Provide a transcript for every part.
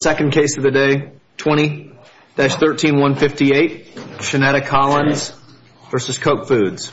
Second case of the day, 20-13158, Shenetta Collins v. Koch Foods.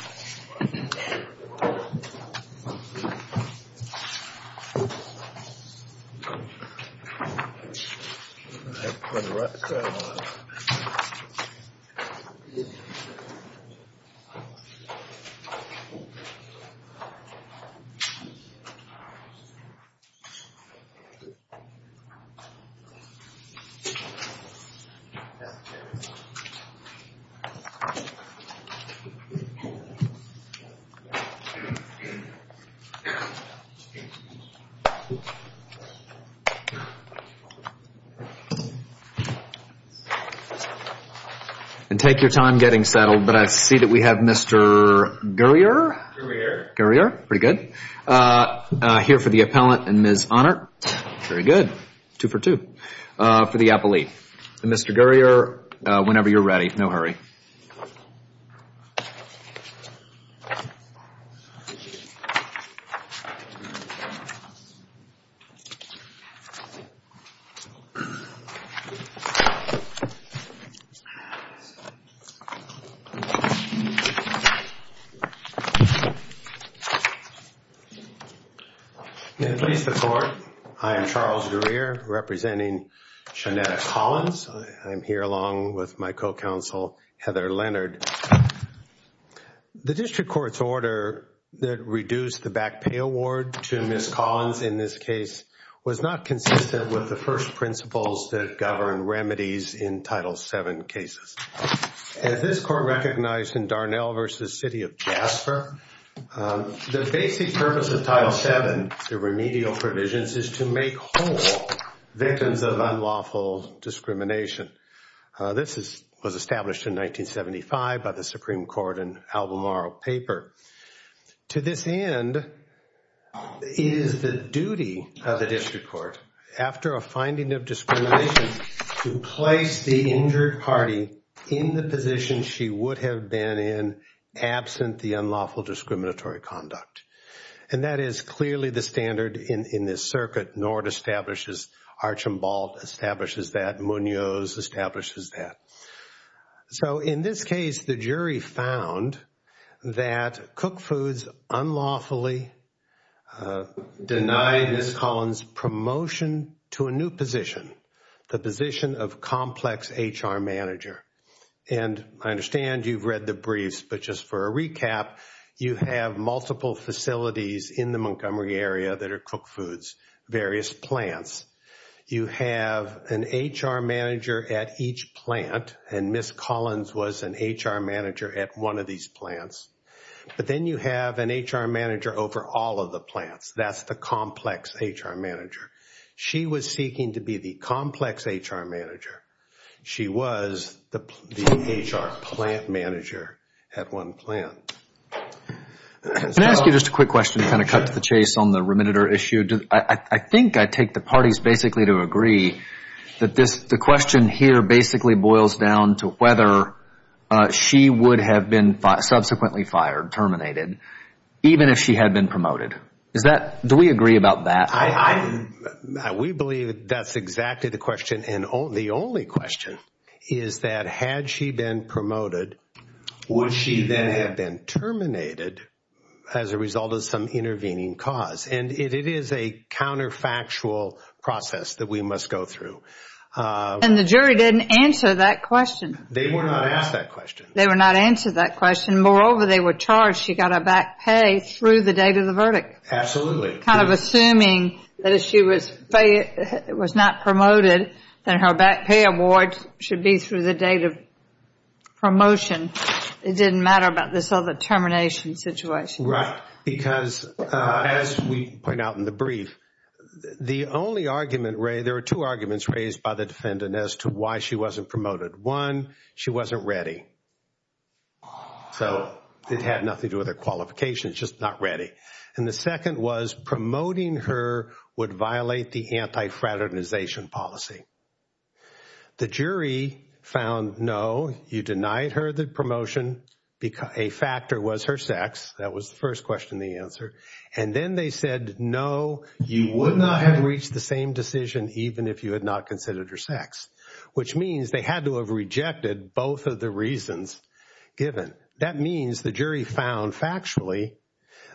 And take your time getting settled, but I see that we have Mr. Gurrier here for the appellee. And Mr. Gurrier, whenever you're ready, no hurry. And please, the Court, I am Charles Gurrier, representing Shenetta Collins. I'm here along with my co-counsel, Heather Leonard. The District Court's order that reduced the back pay award to Ms. Collins in this case was not consistent with the first principles that govern remedies in Title VII cases. As this Court recognized in Darnell v. City of Jasper, the basic purpose of Title VII, the remedial provisions, is to make whole victims of unlawful discrimination. This was established in 1975 by the Supreme Court in Albemarle paper. To this end, it is the duty of the District Court, after a finding of discrimination, to place the injured party in the position she would have been in absent the unlawful discriminatory conduct. And that is clearly the standard in this circuit. Nord establishes Archambault, establishes that. Munoz establishes that. So in this case, the jury found that Cook Foods unlawfully denied Ms. Collins' promotion to a new position, the position of complex HR manager. And I understand you've read the briefs, but just for a recap, you have multiple facilities in the Montgomery area that are Cook Foods, various plants. You have an HR manager at each plant, and Ms. Collins was an HR manager at one of these plants. But then you have an HR manager over all of the plants. That's the complex HR manager. She was seeking to be the complex HR manager. She was the HR plant manager at one plant. Can I ask you just a quick question to kind of cut to the chase on the remediator issue? I think I take the parties basically to agree that the question here basically boils down to whether she would have been subsequently fired, terminated, even if she had been promoted. Do we agree about that? We believe that's exactly the question. The only question is that had she been promoted, would she then have been terminated as a result of some intervening cause? And it is a counterfactual process that we must go through. And the jury didn't answer that question. They were not asked that question. They were not answered that question. Moreover, they were charged she got a back pay through the date of the verdict. Absolutely. Kind of assuming that if she was not promoted, then her back pay award should be through the date of promotion. It didn't matter about this other termination situation. Right. Because as we point out in the brief, the only argument, Ray, there are two arguments raised by the defendant as to why she wasn't promoted. One, she wasn't ready. So it had nothing to do with her qualifications, just not ready. And the second was promoting her would violate the anti-fraternization policy. The jury found, no, you denied her the promotion because a factor was her sex. That was the first question, the answer. And then they said, no, you would not have reached the same decision even if you had not considered her sex, which means they had to have rejected both of the reasons given. That means the jury found factually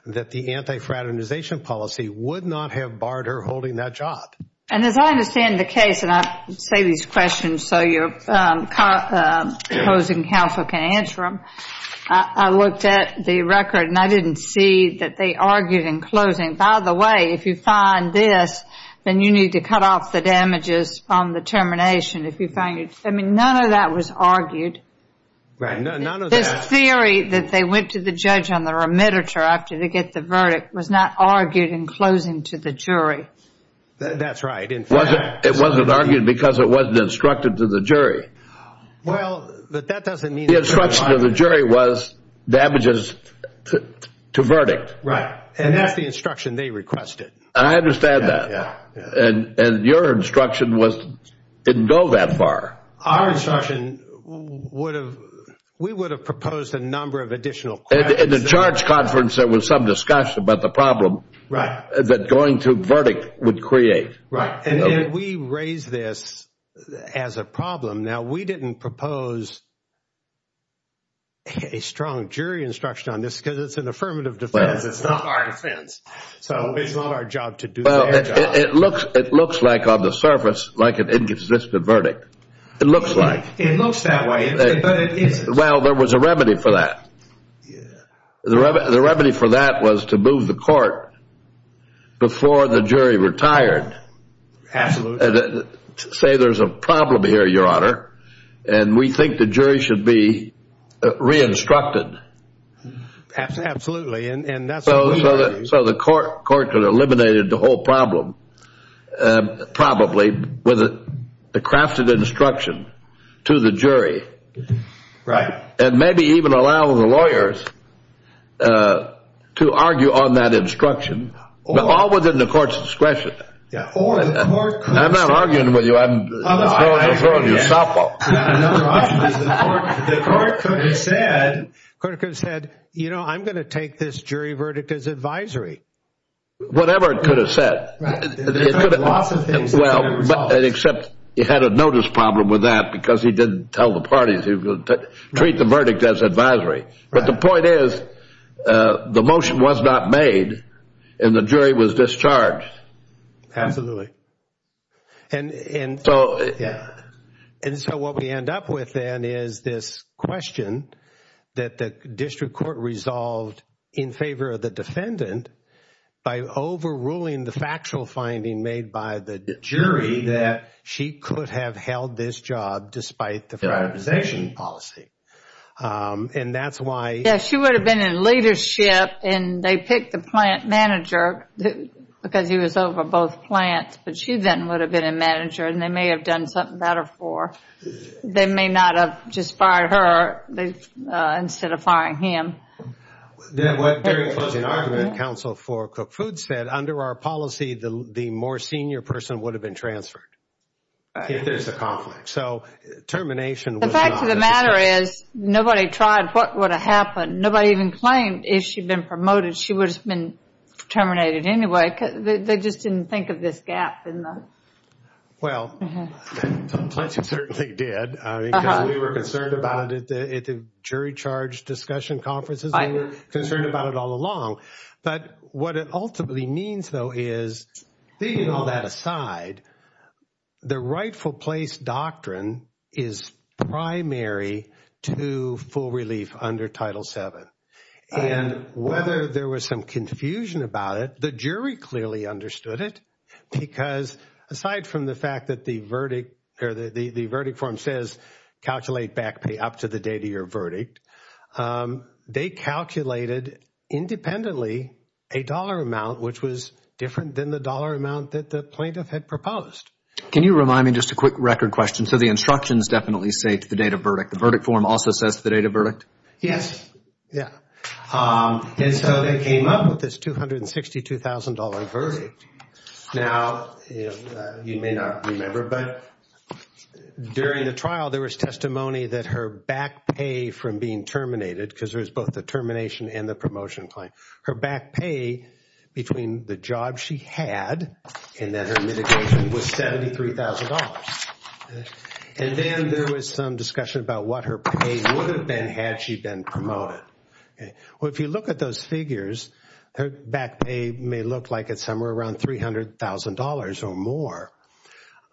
that the anti-fraternization policy would not have barred her holding that job. And as I understand the case, and I say these questions so your opposing counsel can answer them, I looked at the record and I didn't see that they argued in closing, by the way, if you find this, then you need to cut off the damages on the termination. If you find it, I mean, none of that was argued. Right. None of this theory that they went to the judge on the remittance or after they get the verdict was not argued in closing to the jury. That's right. In fact, it wasn't argued because it wasn't instructed to the jury. Well, but that doesn't mean the instruction of the jury was damages to verdict. Right. And that's the instruction they requested. I understand that. And your instruction was didn't go that far. Our instruction would have, we would have proposed a number of additional questions. In the charge conference, there was some discussion about the problem. Right. That going to verdict would create. Right. And we raise this as a problem. Now, we didn't propose a strong jury instruction on this because it's an affirmative defense. It's not our defense. So it's not our job to do that. It looks like on the surface, like an inconsistent verdict. It looks like it looks that way. Well, there was a remedy for that. The remedy for that was to move the court before the jury retired. Absolutely. Say there's a problem here, Your Honor. And we think the jury should be re-instructed. Absolutely. And so the court could have eliminated the whole problem. And probably with the crafted instruction to the jury. Right. And maybe even allow the lawyers to argue on that instruction. All within the court's discretion. Yeah. I'm not arguing with you. I'm throwing you a softball. The court could have said, you know, I'm going to take this jury verdict as advisory. Whatever it could have said. There could have been lots of things that could have been resolved. Except he had a notice problem with that because he didn't tell the parties he was going to treat the verdict as advisory. But the point is, the motion was not made and the jury was discharged. Absolutely. And so what we end up with then is this question that the district court resolved in favor of the defendant by overruling the factual finding made by the jury that she could have held this job despite the privatization policy. And that's why. Yeah, she would have been in leadership and they picked the plant manager because he was over both plants. But she then would have been a manager and they may have done something better for her. They may not have just fired her instead of firing him. During the closing argument, counsel for Cook Foods said, under our policy, the more senior person would have been transferred. If there's a conflict. So termination. The fact of the matter is nobody tried what would have happened. Nobody even claimed if she'd been promoted, she would have been terminated anyway. They just didn't think of this gap. Well, plenty certainly did. We were concerned about it at the jury charge discussion conferences. I'm concerned about it all along. But what it ultimately means, though, is all that aside, the rightful place doctrine is primary to full relief under Title VII. And whether there was some confusion about it, the jury clearly understood it. Because aside from the fact that the verdict or the verdict form says calculate back pay up to the date of your verdict, they calculated independently a dollar amount which was different than the dollar amount that the plaintiff had proposed. Can you remind me just a quick record question? So the instructions definitely say to the date of verdict. The verdict form also says the date of verdict? Yes. Yeah. And so they came up with this $262,000 verdict. Now, you may not remember, but during the trial, there was testimony that her back pay from being terminated, because there was both the termination and the promotion claim, her back pay between the job she had and that her mitigation was $73,000. And then there was some discussion about what her pay would have been had she been promoted. Well, if you look at those figures, her back pay may look like it's somewhere around $300,000 or more.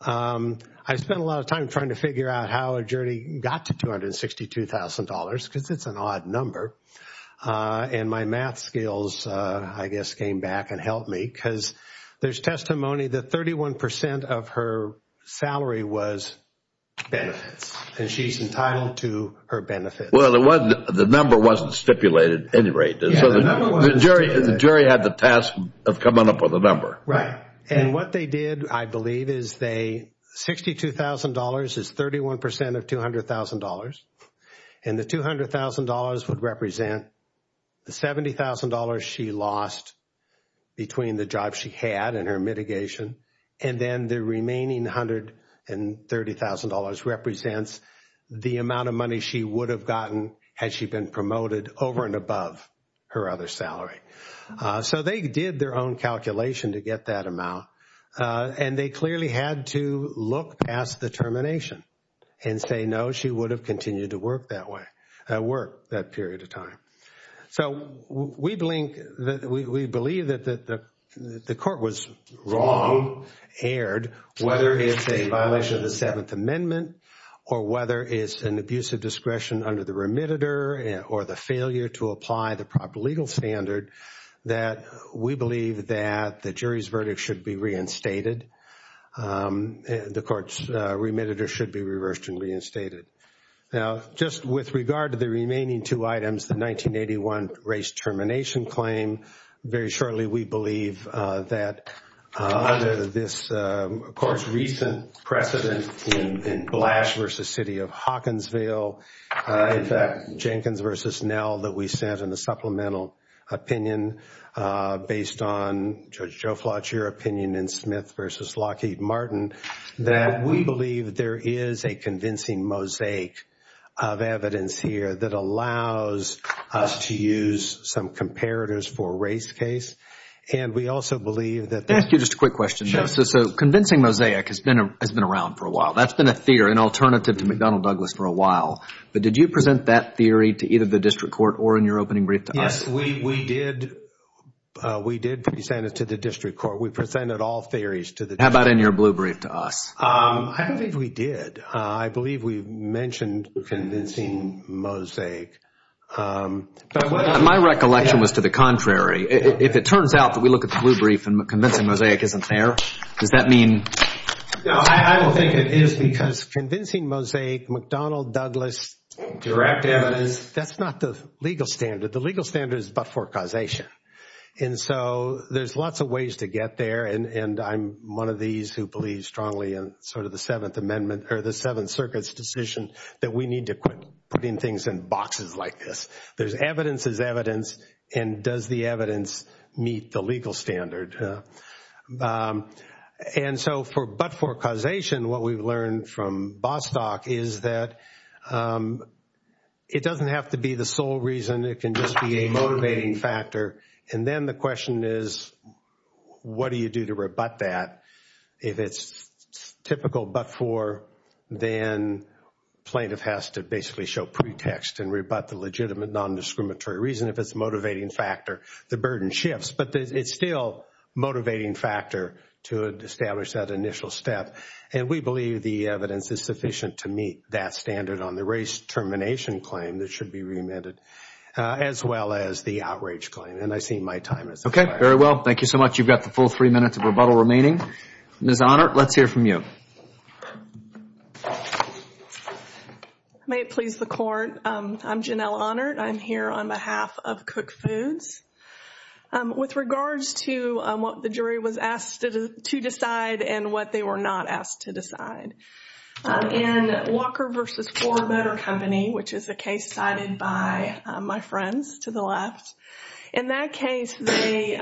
I spent a lot of time trying to figure out how a jury got to $262,000, because it's an odd number. And my math skills, I guess, came back and helped me, because there's testimony that 31% of her salary was benefits, and she's entitled to her benefits. Well, the number wasn't stipulated at any rate. The jury had the task of coming up with a number. Right. And what they did, I believe, is $62,000 is 31% of $200,000. And the $200,000 would represent the $70,000 she lost between the job she had and her mitigation. And then the remaining $130,000 represents the amount of money she would have gotten had she been promoted over and above her other salary. So they did their own calculation to get that amount. And they clearly had to look past the termination and say, no, she would have continued to work that way, work that period of time. So we believe that the court was wrong, erred, whether it's a violation of the Seventh Amendment, or whether it's an abuse of discretion under the remitter, or the failure to apply the proper legal standard, that we believe that the jury's verdict should be reinstated. The court's remitter should be reversed and reinstated. Now, just with regard to the remaining two items, the 1981 race termination claim, very shortly we believe that under this court's recent precedent in Blash v. City of Hawkinsville, in fact, Jenkins v. Nell that we sent in a supplemental opinion based on Judge Joflat's opinion in Smith v. Lockheed Martin, that we believe there is a convincing mosaic of evidence here that allows us to use some comparators for a race case. And we also believe that... Can I ask you just a quick question? Sure. So convincing mosaic has been around for a while. That's been a fear, an alternative to McDonnell Douglas for a while. Did you present that theory to either the district court or in your opening brief to us? Yes, we did. We did present it to the district court. We presented all theories to the district court. How about in your blue brief to us? I don't think we did. I believe we mentioned convincing mosaic. My recollection was to the contrary. If it turns out that we look at the blue brief and convincing mosaic isn't there, does that mean... No, I don't think it is because convincing mosaic, McDonnell Douglas direct evidence, that's not the legal standard. The legal standard is but-for-causation. And so there's lots of ways to get there. And I'm one of these who believes strongly in sort of the Seventh Amendment or the Seventh Circuit's decision that we need to quit putting things in boxes like this. There's evidence is evidence. And does the evidence meet the legal standard? Yeah. And so for but-for-causation, what we've learned from Bostock is that it doesn't have to be the sole reason. It can just be a motivating factor. And then the question is, what do you do to rebut that? If it's typical but-for, then plaintiff has to basically show pretext and rebut the legitimate non-discriminatory reason. If it's a motivating factor, the burden shifts. But it's still a motivating factor to establish that initial step. And we believe the evidence is sufficient to meet that standard on the race termination claim that should be remitted, as well as the outrage claim. And I see my time is up. Okay. Very well. Thank you so much. You've got the full three minutes of rebuttal remaining. Ms. Honert, let's hear from you. May it please the Court. I'm Janelle Honert. I'm here on behalf of Cook Foods. With regards to what the jury was asked to decide and what they were not asked to decide, in Walker v. 4 Motor Company, which is a case cited by my friends to the left, in that case, they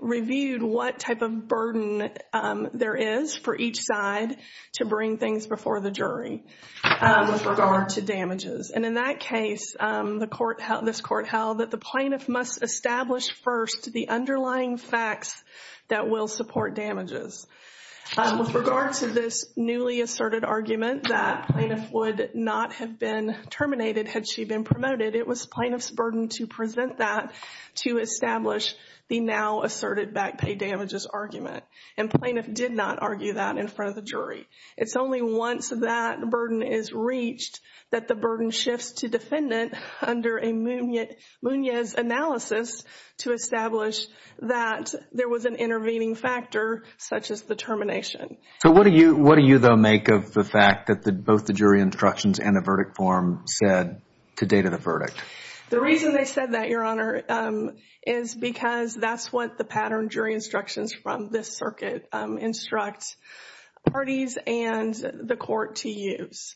reviewed what type of burden there is for each side to bring things before the jury with regard to damages. And in that case, this Court held that the plaintiff must establish first the underlying facts that will support damages. With regard to this newly asserted argument that plaintiff would not have been terminated had she been promoted, it was plaintiff's burden to present that to establish the now asserted back pay damages argument. And plaintiff did not argue that in front of the jury. It's only once that burden is reached that the burden shifts to defendant under a Munoz analysis to establish that there was an intervening factor such as the termination. So, what do you, though, make of the fact that both the jury instructions and the verdict form said to date of the verdict? The reason they said that, Your Honor, is because that's what the pattern jury instructions from this circuit instructs parties and the Court to use.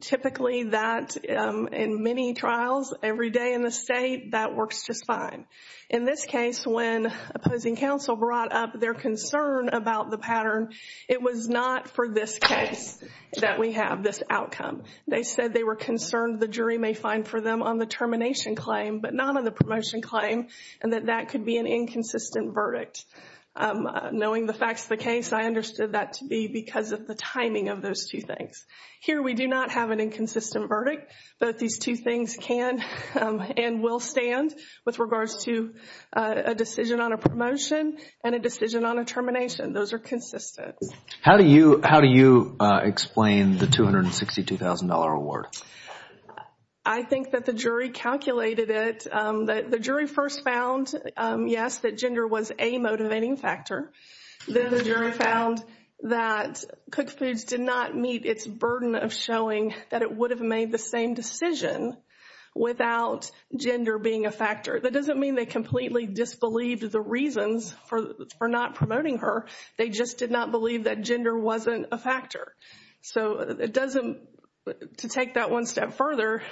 Typically, that, in many trials, every day in the state, that works just fine. In this case, when opposing counsel brought up their concern about the pattern, it was not for this case that we have this outcome. They said they were concerned the jury may find for them on the termination claim, but not on the promotion claim, and that that could be an inconsistent verdict. Knowing the facts of the case, I understood that to be because of the timing of those two things. Here, we do not have an inconsistent verdict. Both these two things can and will stand with regards to a decision on a promotion and a decision on a termination. Those are consistent. How do you explain the $262,000 award? I think that the jury calculated it. The jury first found, yes, that gender was a motivating factor. Then the jury found that Cook Foods did not meet its burden of showing that it would have made the same decision without gender being a factor. That doesn't mean they completely disbelieved the reasons for not promoting her. So to take that one step further,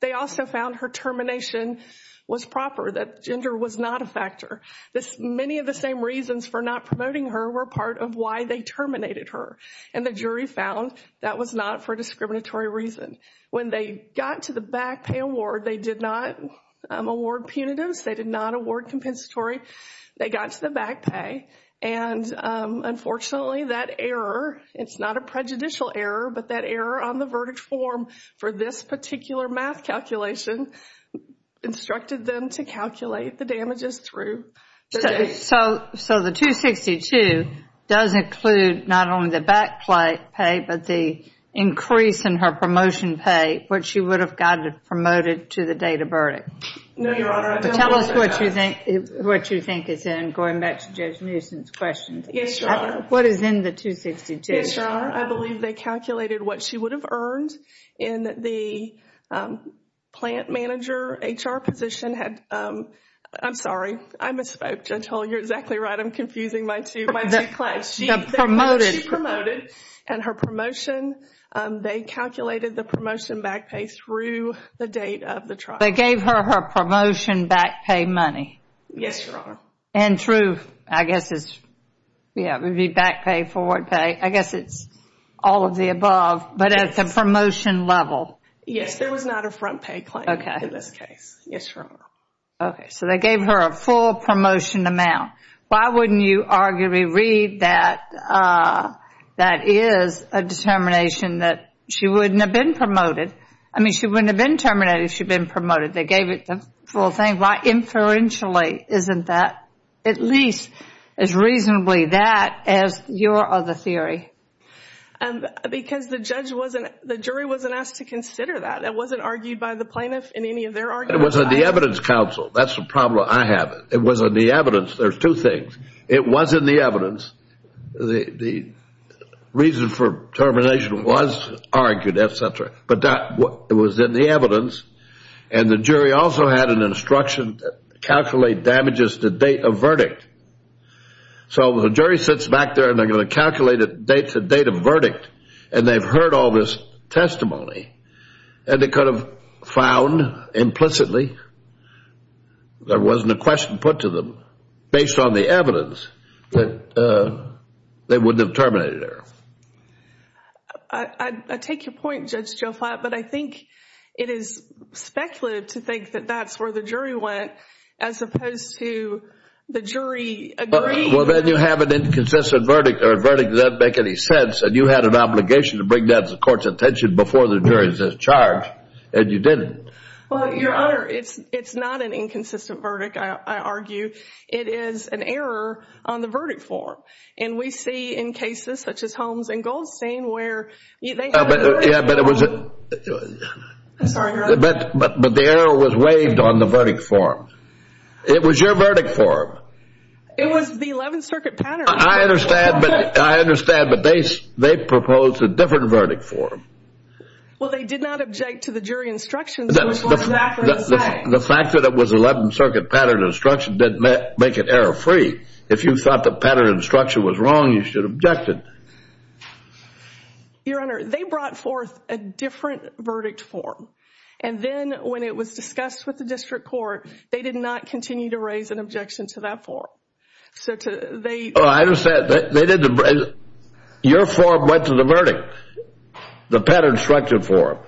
they also found her termination was proper, that gender was not a factor. Many of the same reasons for not promoting her were part of why they terminated her, and the jury found that was not for a discriminatory reason. When they got to the back pay award, they did not award punitives. They did not award compensatory. They got to the back pay, and unfortunately, that error, it's not a prejudicial error, but that error on the verdict form for this particular math calculation instructed them to calculate the damages through. So the $262,000 does include not only the back pay, but the increase in her promotion pay, which she would have got promoted to the date of verdict. No, Your Honor. Tell us what you think is in, going back to Judge Newsom's questions. Yes, Your Honor. What is in the $262,000? Yes, Your Honor. I believe they calculated what she would have earned in the plant manager, HR position had, I'm sorry, I misspoke. Judge Hull, you're exactly right. I'm confusing my two classes. She promoted, and her promotion, they calculated the promotion back pay through the date of the trial. They gave her her promotion back pay money? Yes, Your Honor. And through, I guess it's, yeah, it would be back pay, forward pay. I guess it's all of the above, but at the promotion level. Yes, there was not a front pay claim in this case. Yes, Your Honor. Okay, so they gave her a full promotion amount. Why wouldn't you arguably read that that is a determination that she wouldn't have been promoted? I mean, she wouldn't have been terminated if she'd been promoted. They gave it the full thing. Inferentially, isn't that at least as reasonably that as your other theory? Because the judge wasn't, the jury wasn't asked to consider that. It wasn't argued by the plaintiff in any of their arguments. It was on the evidence council. That's the problem I have. It was on the evidence. There's two things. It was in the evidence. The reason for termination was argued, etc. But that was in the evidence. And the jury also had an instruction to calculate damages to date of verdict. So the jury sits back there and they're going to calculate the date of verdict. And they've heard all this testimony. And they could have found implicitly there wasn't a question put to them based on the evidence that they wouldn't have terminated her. I take your point, Judge Joe Flatt. But I think it is speculative to think that that's where the jury went as opposed to the jury agreeing. Well, then you have an inconsistent verdict. A verdict that doesn't make any sense. And you had an obligation to bring that to the court's attention before the jury's charge. And you didn't. Well, Your Honor, it's not an inconsistent verdict, I argue. It is an error on the verdict form. And we see in cases such as Holmes and Goldstein where they had an error on the verdict form. Yeah, but it was. I'm sorry, Your Honor. But the error was waived on the verdict form. It was your verdict form. It was the 11th Circuit pattern. I understand. But I understand. But they proposed a different verdict form. Well, they did not object to the jury instructions. The fact that it was 11th Circuit pattern instruction didn't make it error free. If you thought the pattern instruction was wrong, you should have objected. Your Honor, they brought forth a different verdict form. And then when it was discussed with the district court, they did not continue to raise an objection to that form. So they. Oh, I understand. Your form went to the verdict. The pattern instruction form.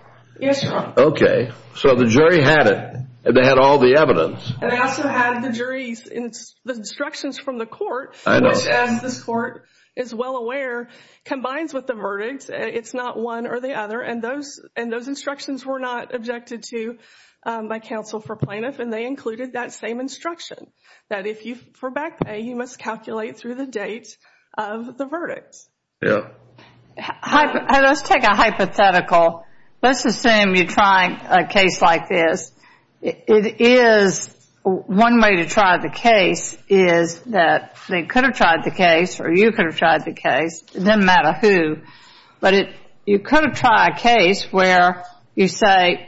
Yes, Your Honor. OK. So the jury had it. And they had all the evidence. And they also had the jury's instructions from the court. I know. Which, as this court is well aware, combines with the verdict. It's not one or the other. And those instructions were not objected to by counsel for plaintiff. And they included that same instruction. That if you for back pay, you must calculate through the date of the verdict. Yeah. Let's take a hypothetical. Let's assume you're trying a case like this. It is one way to try the case is that they could have tried the case. Or you could have tried the case. It doesn't matter who. But you could have tried a case where you say,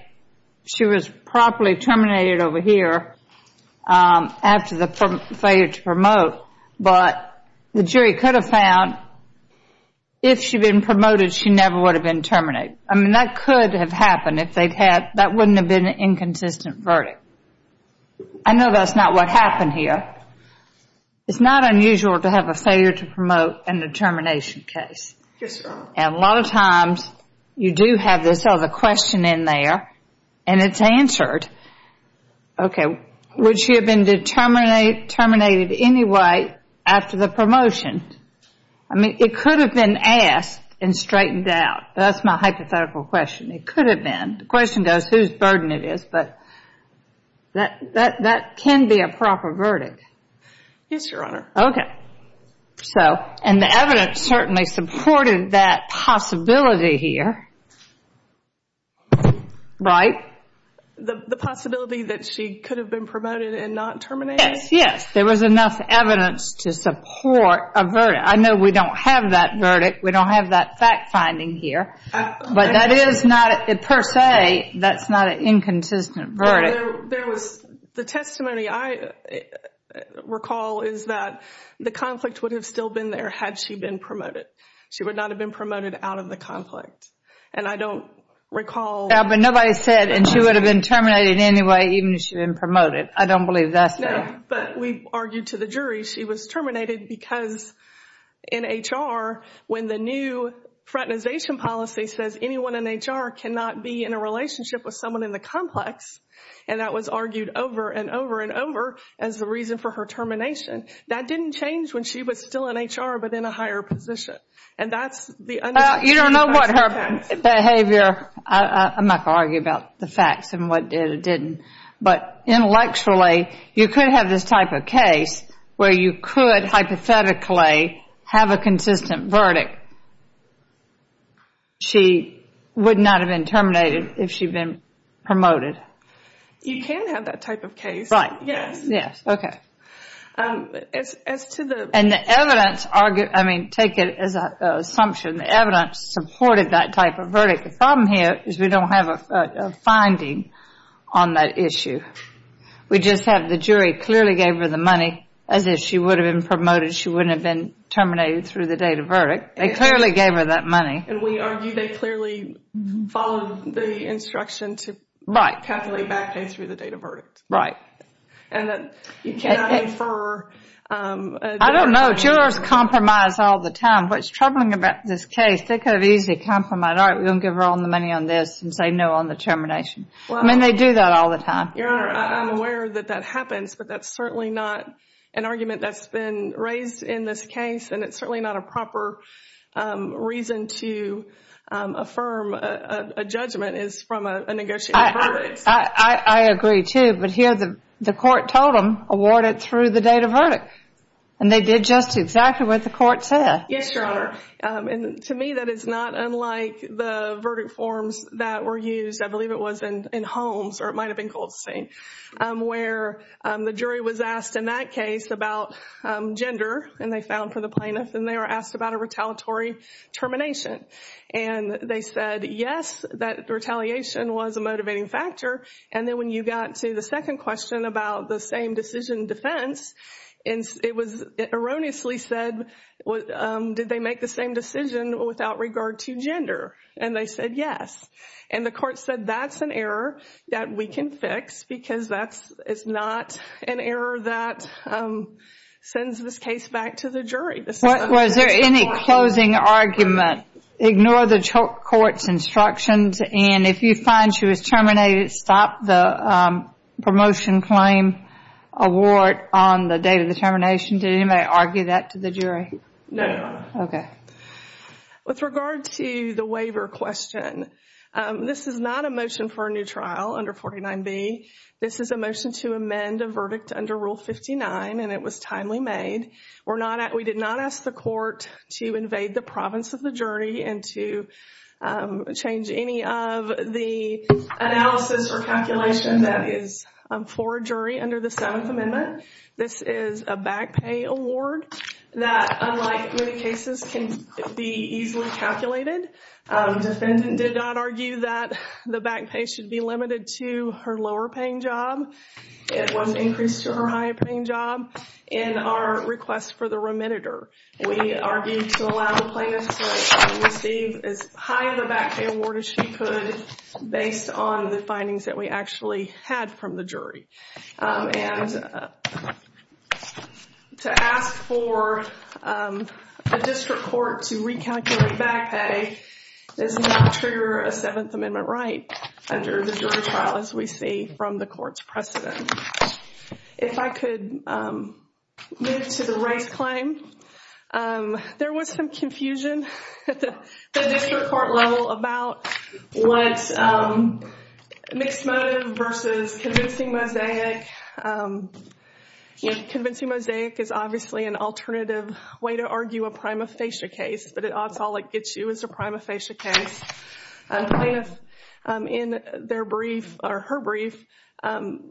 she was properly terminated over here after the failure to promote. But the jury could have found if she'd been promoted, she never would have been terminated. I mean, that could have happened if they'd had. That wouldn't have been an inconsistent verdict. I know that's not what happened here. It's not unusual to have a failure to promote in a termination case. Yes, ma'am. And a lot of times, you do have this other question in there. And it's answered. Okay, would she have been terminated anyway after the promotion? I mean, it could have been asked and straightened out. That's my hypothetical question. It could have been. The question goes, whose burden it is. But that can be a proper verdict. Yes, Your Honor. Okay. So, and the evidence certainly supported that possibility here. Right? The possibility that she could have been promoted and not terminated? Yes, there was enough evidence to support a verdict. I know we don't have that verdict. We don't have that fact finding here. But that is not, per se, that's not an inconsistent verdict. There was, the testimony I recall is that the conflict would have still been there had she been promoted. She would not have been promoted out of the conflict. And I don't recall... But nobody said, and she would have been terminated anyway, even if she'd been promoted. I don't believe that's there. But we argued to the jury she was terminated because in HR, when the new fraternization policy says anyone in HR cannot be in a relationship with someone in the complex, and that was argued over and over and over as the reason for her termination. That didn't change when she was still in HR, but in a higher position. And that's the... Well, you don't know what her behavior... I'm not going to argue about the facts and what did or didn't. But intellectually, you could have this type of case where you could hypothetically have a consistent verdict. She would not have been terminated if she'd been promoted. You can have that type of case. Right. Yes. Yes. Okay. As to the... And the evidence, I mean, take it as an assumption, the evidence supported that type of verdict. The problem here is we don't have a finding on that issue. We just have the jury clearly gave her the money as if she would have been promoted, she wouldn't have been terminated through the date of verdict. They clearly gave her that money. And we argue they clearly followed the instruction to... Right. ...calculate back pay through the date of verdict. Right. And that you cannot infer... I don't know. Jurors compromise all the time. What's troubling about this case, they could have easily compromised, all right, we're going to give her all the money on this and say no on the termination. I mean, they do that all the time. Your Honor, I'm aware that that happens, but that's certainly not an argument that's been raised in this case. And it's certainly not a proper reason to affirm a judgment is from a negotiated verdict. I agree too, but here the court told them, award it through the date of verdict. And they did just exactly what the court said. Yes, Your Honor. And to me, that is not unlike the verdict forms that were used, I believe it was in Holmes or it might have been Goldstein, where the jury was asked in that case about gender and they found for the plaintiff and they were asked about a retaliatory termination. And they said, yes, that retaliation was a motivating factor. And then when you got to the second question about the same decision defense, and it was erroneously said, did they make the same decision without regard to gender? And they said, yes. And the court said, that's an error that we can fix because it's not an error that sends this case back to the jury. Was there any closing argument? Ignore the court's instructions. And if you find she was terminated, stop the promotion claim award on the date of the termination. Did anybody argue that to the jury? No, Your Honor. Okay. With regard to the waiver question, this is not a motion for a new trial under 49B. This is a motion to amend a verdict under Rule 59. And it was timely made. We did not ask the court to invade the province of the jury and to change any of the analysis or calculation that is for a jury under the Seventh Amendment. This is a back pay award that unlike many cases can be easily calculated. Defendant did not argue that the back pay should be limited to her lower paying job. It wasn't increased to her higher paying job. In our request for the remitter, we argued to allow the plaintiff to receive as high of a back pay award as she could based on the findings that we actually had from the jury. And to ask for a district court to recalculate back pay does not trigger a Seventh Amendment right under the jury trial as we see from the court's precedent. If I could move to the race claim, there was some confusion at the district court level about what mixed motive versus convincing mosaic. Convincing mosaic is obviously an alternative way to argue a prima facie case, but at odds all it gets you is a prima facie case. A plaintiff in their brief or her brief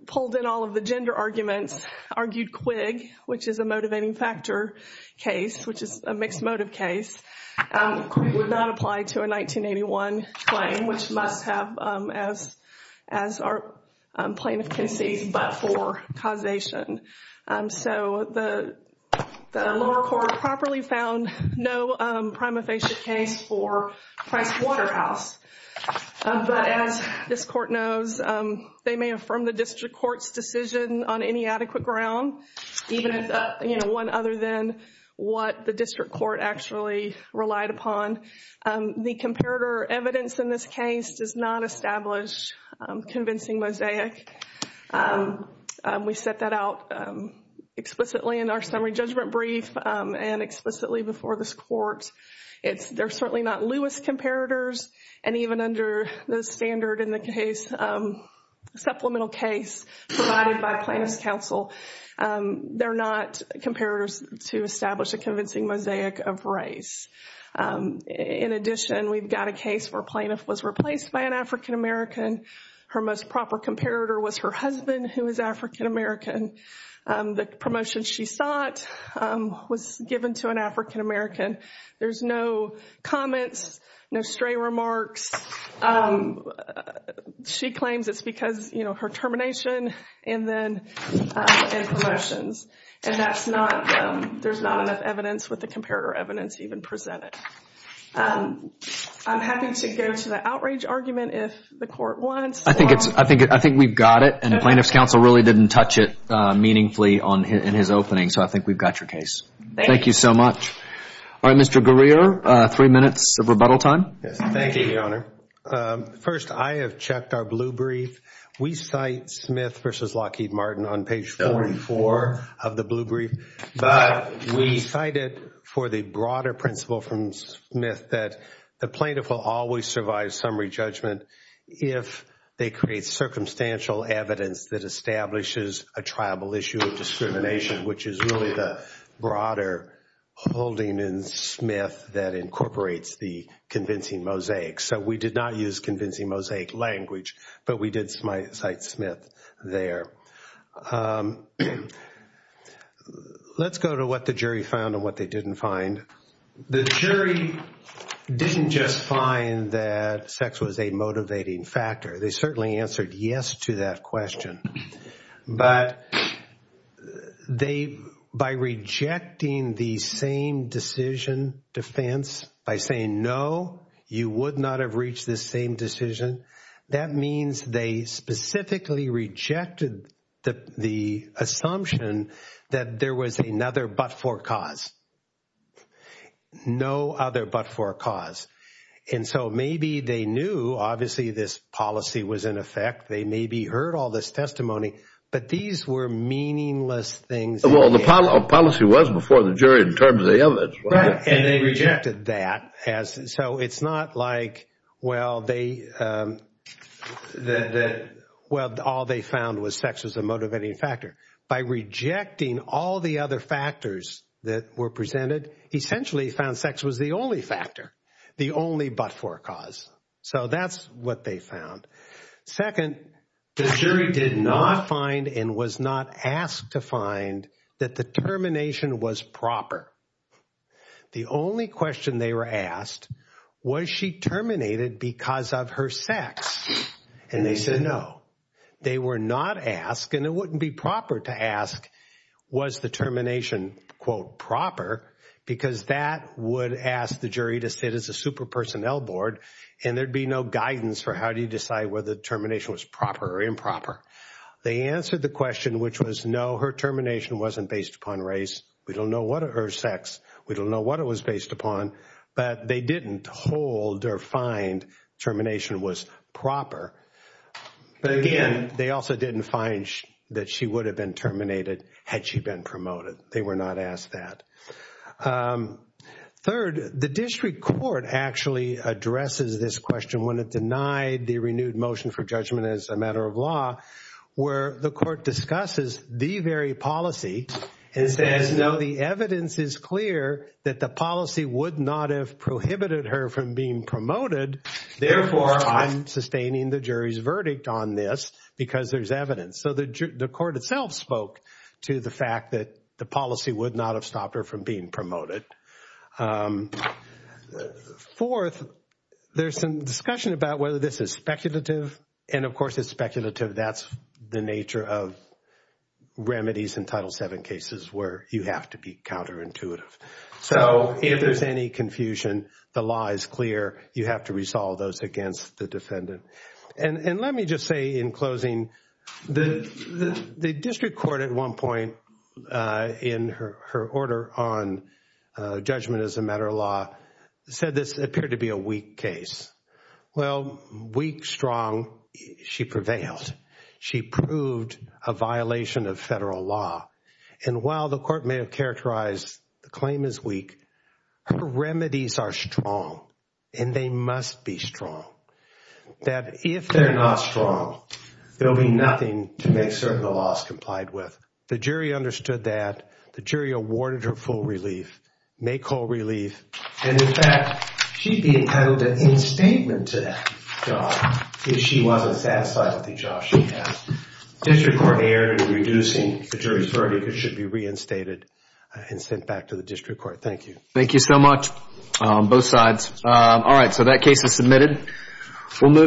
pulled in all of the gender arguments, argued Quig, which is a motivating factor case, which is a mixed motive case. Quig would not apply to a 1981 claim, which must have, as our plaintiff concedes, but for causation. So the lower court properly found no prima facie case for Price Waterhouse. But as this court knows, they may affirm the district court's decision on any adequate ground, even if, you know, one other than what the district court actually relied upon. The comparator evidence in this case does not establish convincing mosaic. We set that out explicitly in our summary judgment brief and explicitly before this court. They're certainly not Lewis comparators, and even under the standard in the case, supplemental case provided by plaintiff's counsel, they're not comparators to establish a convincing mosaic of race. In addition, we've got a case where plaintiff was replaced by an African-American. Her most proper comparator was her husband, who is African-American. The promotion she sought was given to an African-American. There's no comments, no stray remarks. She claims it's because, you know, her termination and then and promotions. And that's not, there's not enough evidence with the comparator evidence even presented. I'm happy to go to the outrage argument if the court wants. I think we've got it, and the plaintiff's counsel really didn't touch it meaningfully in his opening. So I think we've got your case. Thank you so much. All right, Mr. Guerrero, three minutes of rebuttal time. Thank you, Your Honor. First, I have checked our blue brief. We cite Smith versus Lockheed Martin on page 44 of the blue brief, but we cited for the broader principle from Smith that the plaintiff will always survive summary judgment if they create circumstantial evidence that establishes a tribal issue of discrimination, which is really the broader holding in Smith that incorporates the convincing mosaic. So we did not use convincing mosaic language, but we did cite Smith there. Let's go to what the jury found and what they didn't find. The jury didn't just find that sex was a motivating factor. They certainly answered yes to that question, but they, by rejecting the same decision defense, by saying, no, you would not have reached this same decision, that means they specifically rejected the assumption that there was another but-for cause. No other but-for cause. And so maybe they knew, obviously, this policy was in effect. They maybe heard all this testimony, but these were meaningless things. Well, the policy was before the jury in terms of the evidence. Right, and they rejected that. So it's not like, well, all they found was sex was a motivating factor. By rejecting all the other factors that were presented, essentially found sex was the only factor, the only but-for cause. So that's what they found. Second, the jury did not find and was not asked to find that the termination was proper. The only question they were asked, was she terminated because of her sex? And they said, no. They were not asked, and it wouldn't be proper to ask, was the termination, quote, proper? Because that would ask the jury to sit as a super personnel board and there'd be no guidance for how do you decide whether the termination was proper or improper. They answered the question, which was, no, her termination wasn't based upon race. We don't know what her sex, we don't know what it was based upon. But they didn't hold or find termination was proper. But again, they also didn't find that she would have been terminated had she been promoted. They were not asked that. Third, the district court actually addresses this question when it denied the renewed motion for judgment as a matter of law, where the court discusses the very policy, and says, no, the evidence is clear that the policy would not have prohibited her from being promoted. Therefore, I'm sustaining the jury's verdict on this because there's evidence. So the court itself spoke to the fact that the policy would not have stopped her from being promoted. Fourth, there's some discussion about whether this is speculative. And of course, it's speculative. That's the nature of remedies in Title VII cases where you have to be counterintuitive. So if there's any confusion, the law is clear. You have to resolve those against the defendant. And let me just say in closing, the district court at one point in her order on judgment as a matter of law said this appeared to be a weak case. Well, weak, strong, she prevailed. And while the court may have characterized the claim as weak, her remedies are strong. And they must be strong. That if they're not strong, there'll be nothing to make certain the law is complied with. The jury understood that. The jury awarded her full relief, make whole relief. And in fact, she'd be entitled to instatement to that job if she wasn't satisfied with the job she had. District court erred in reducing the jury's verdict. It should be reinstated and sent back to the district court. Thank you. Thank you so much, both sides. All right, so that case is submitted.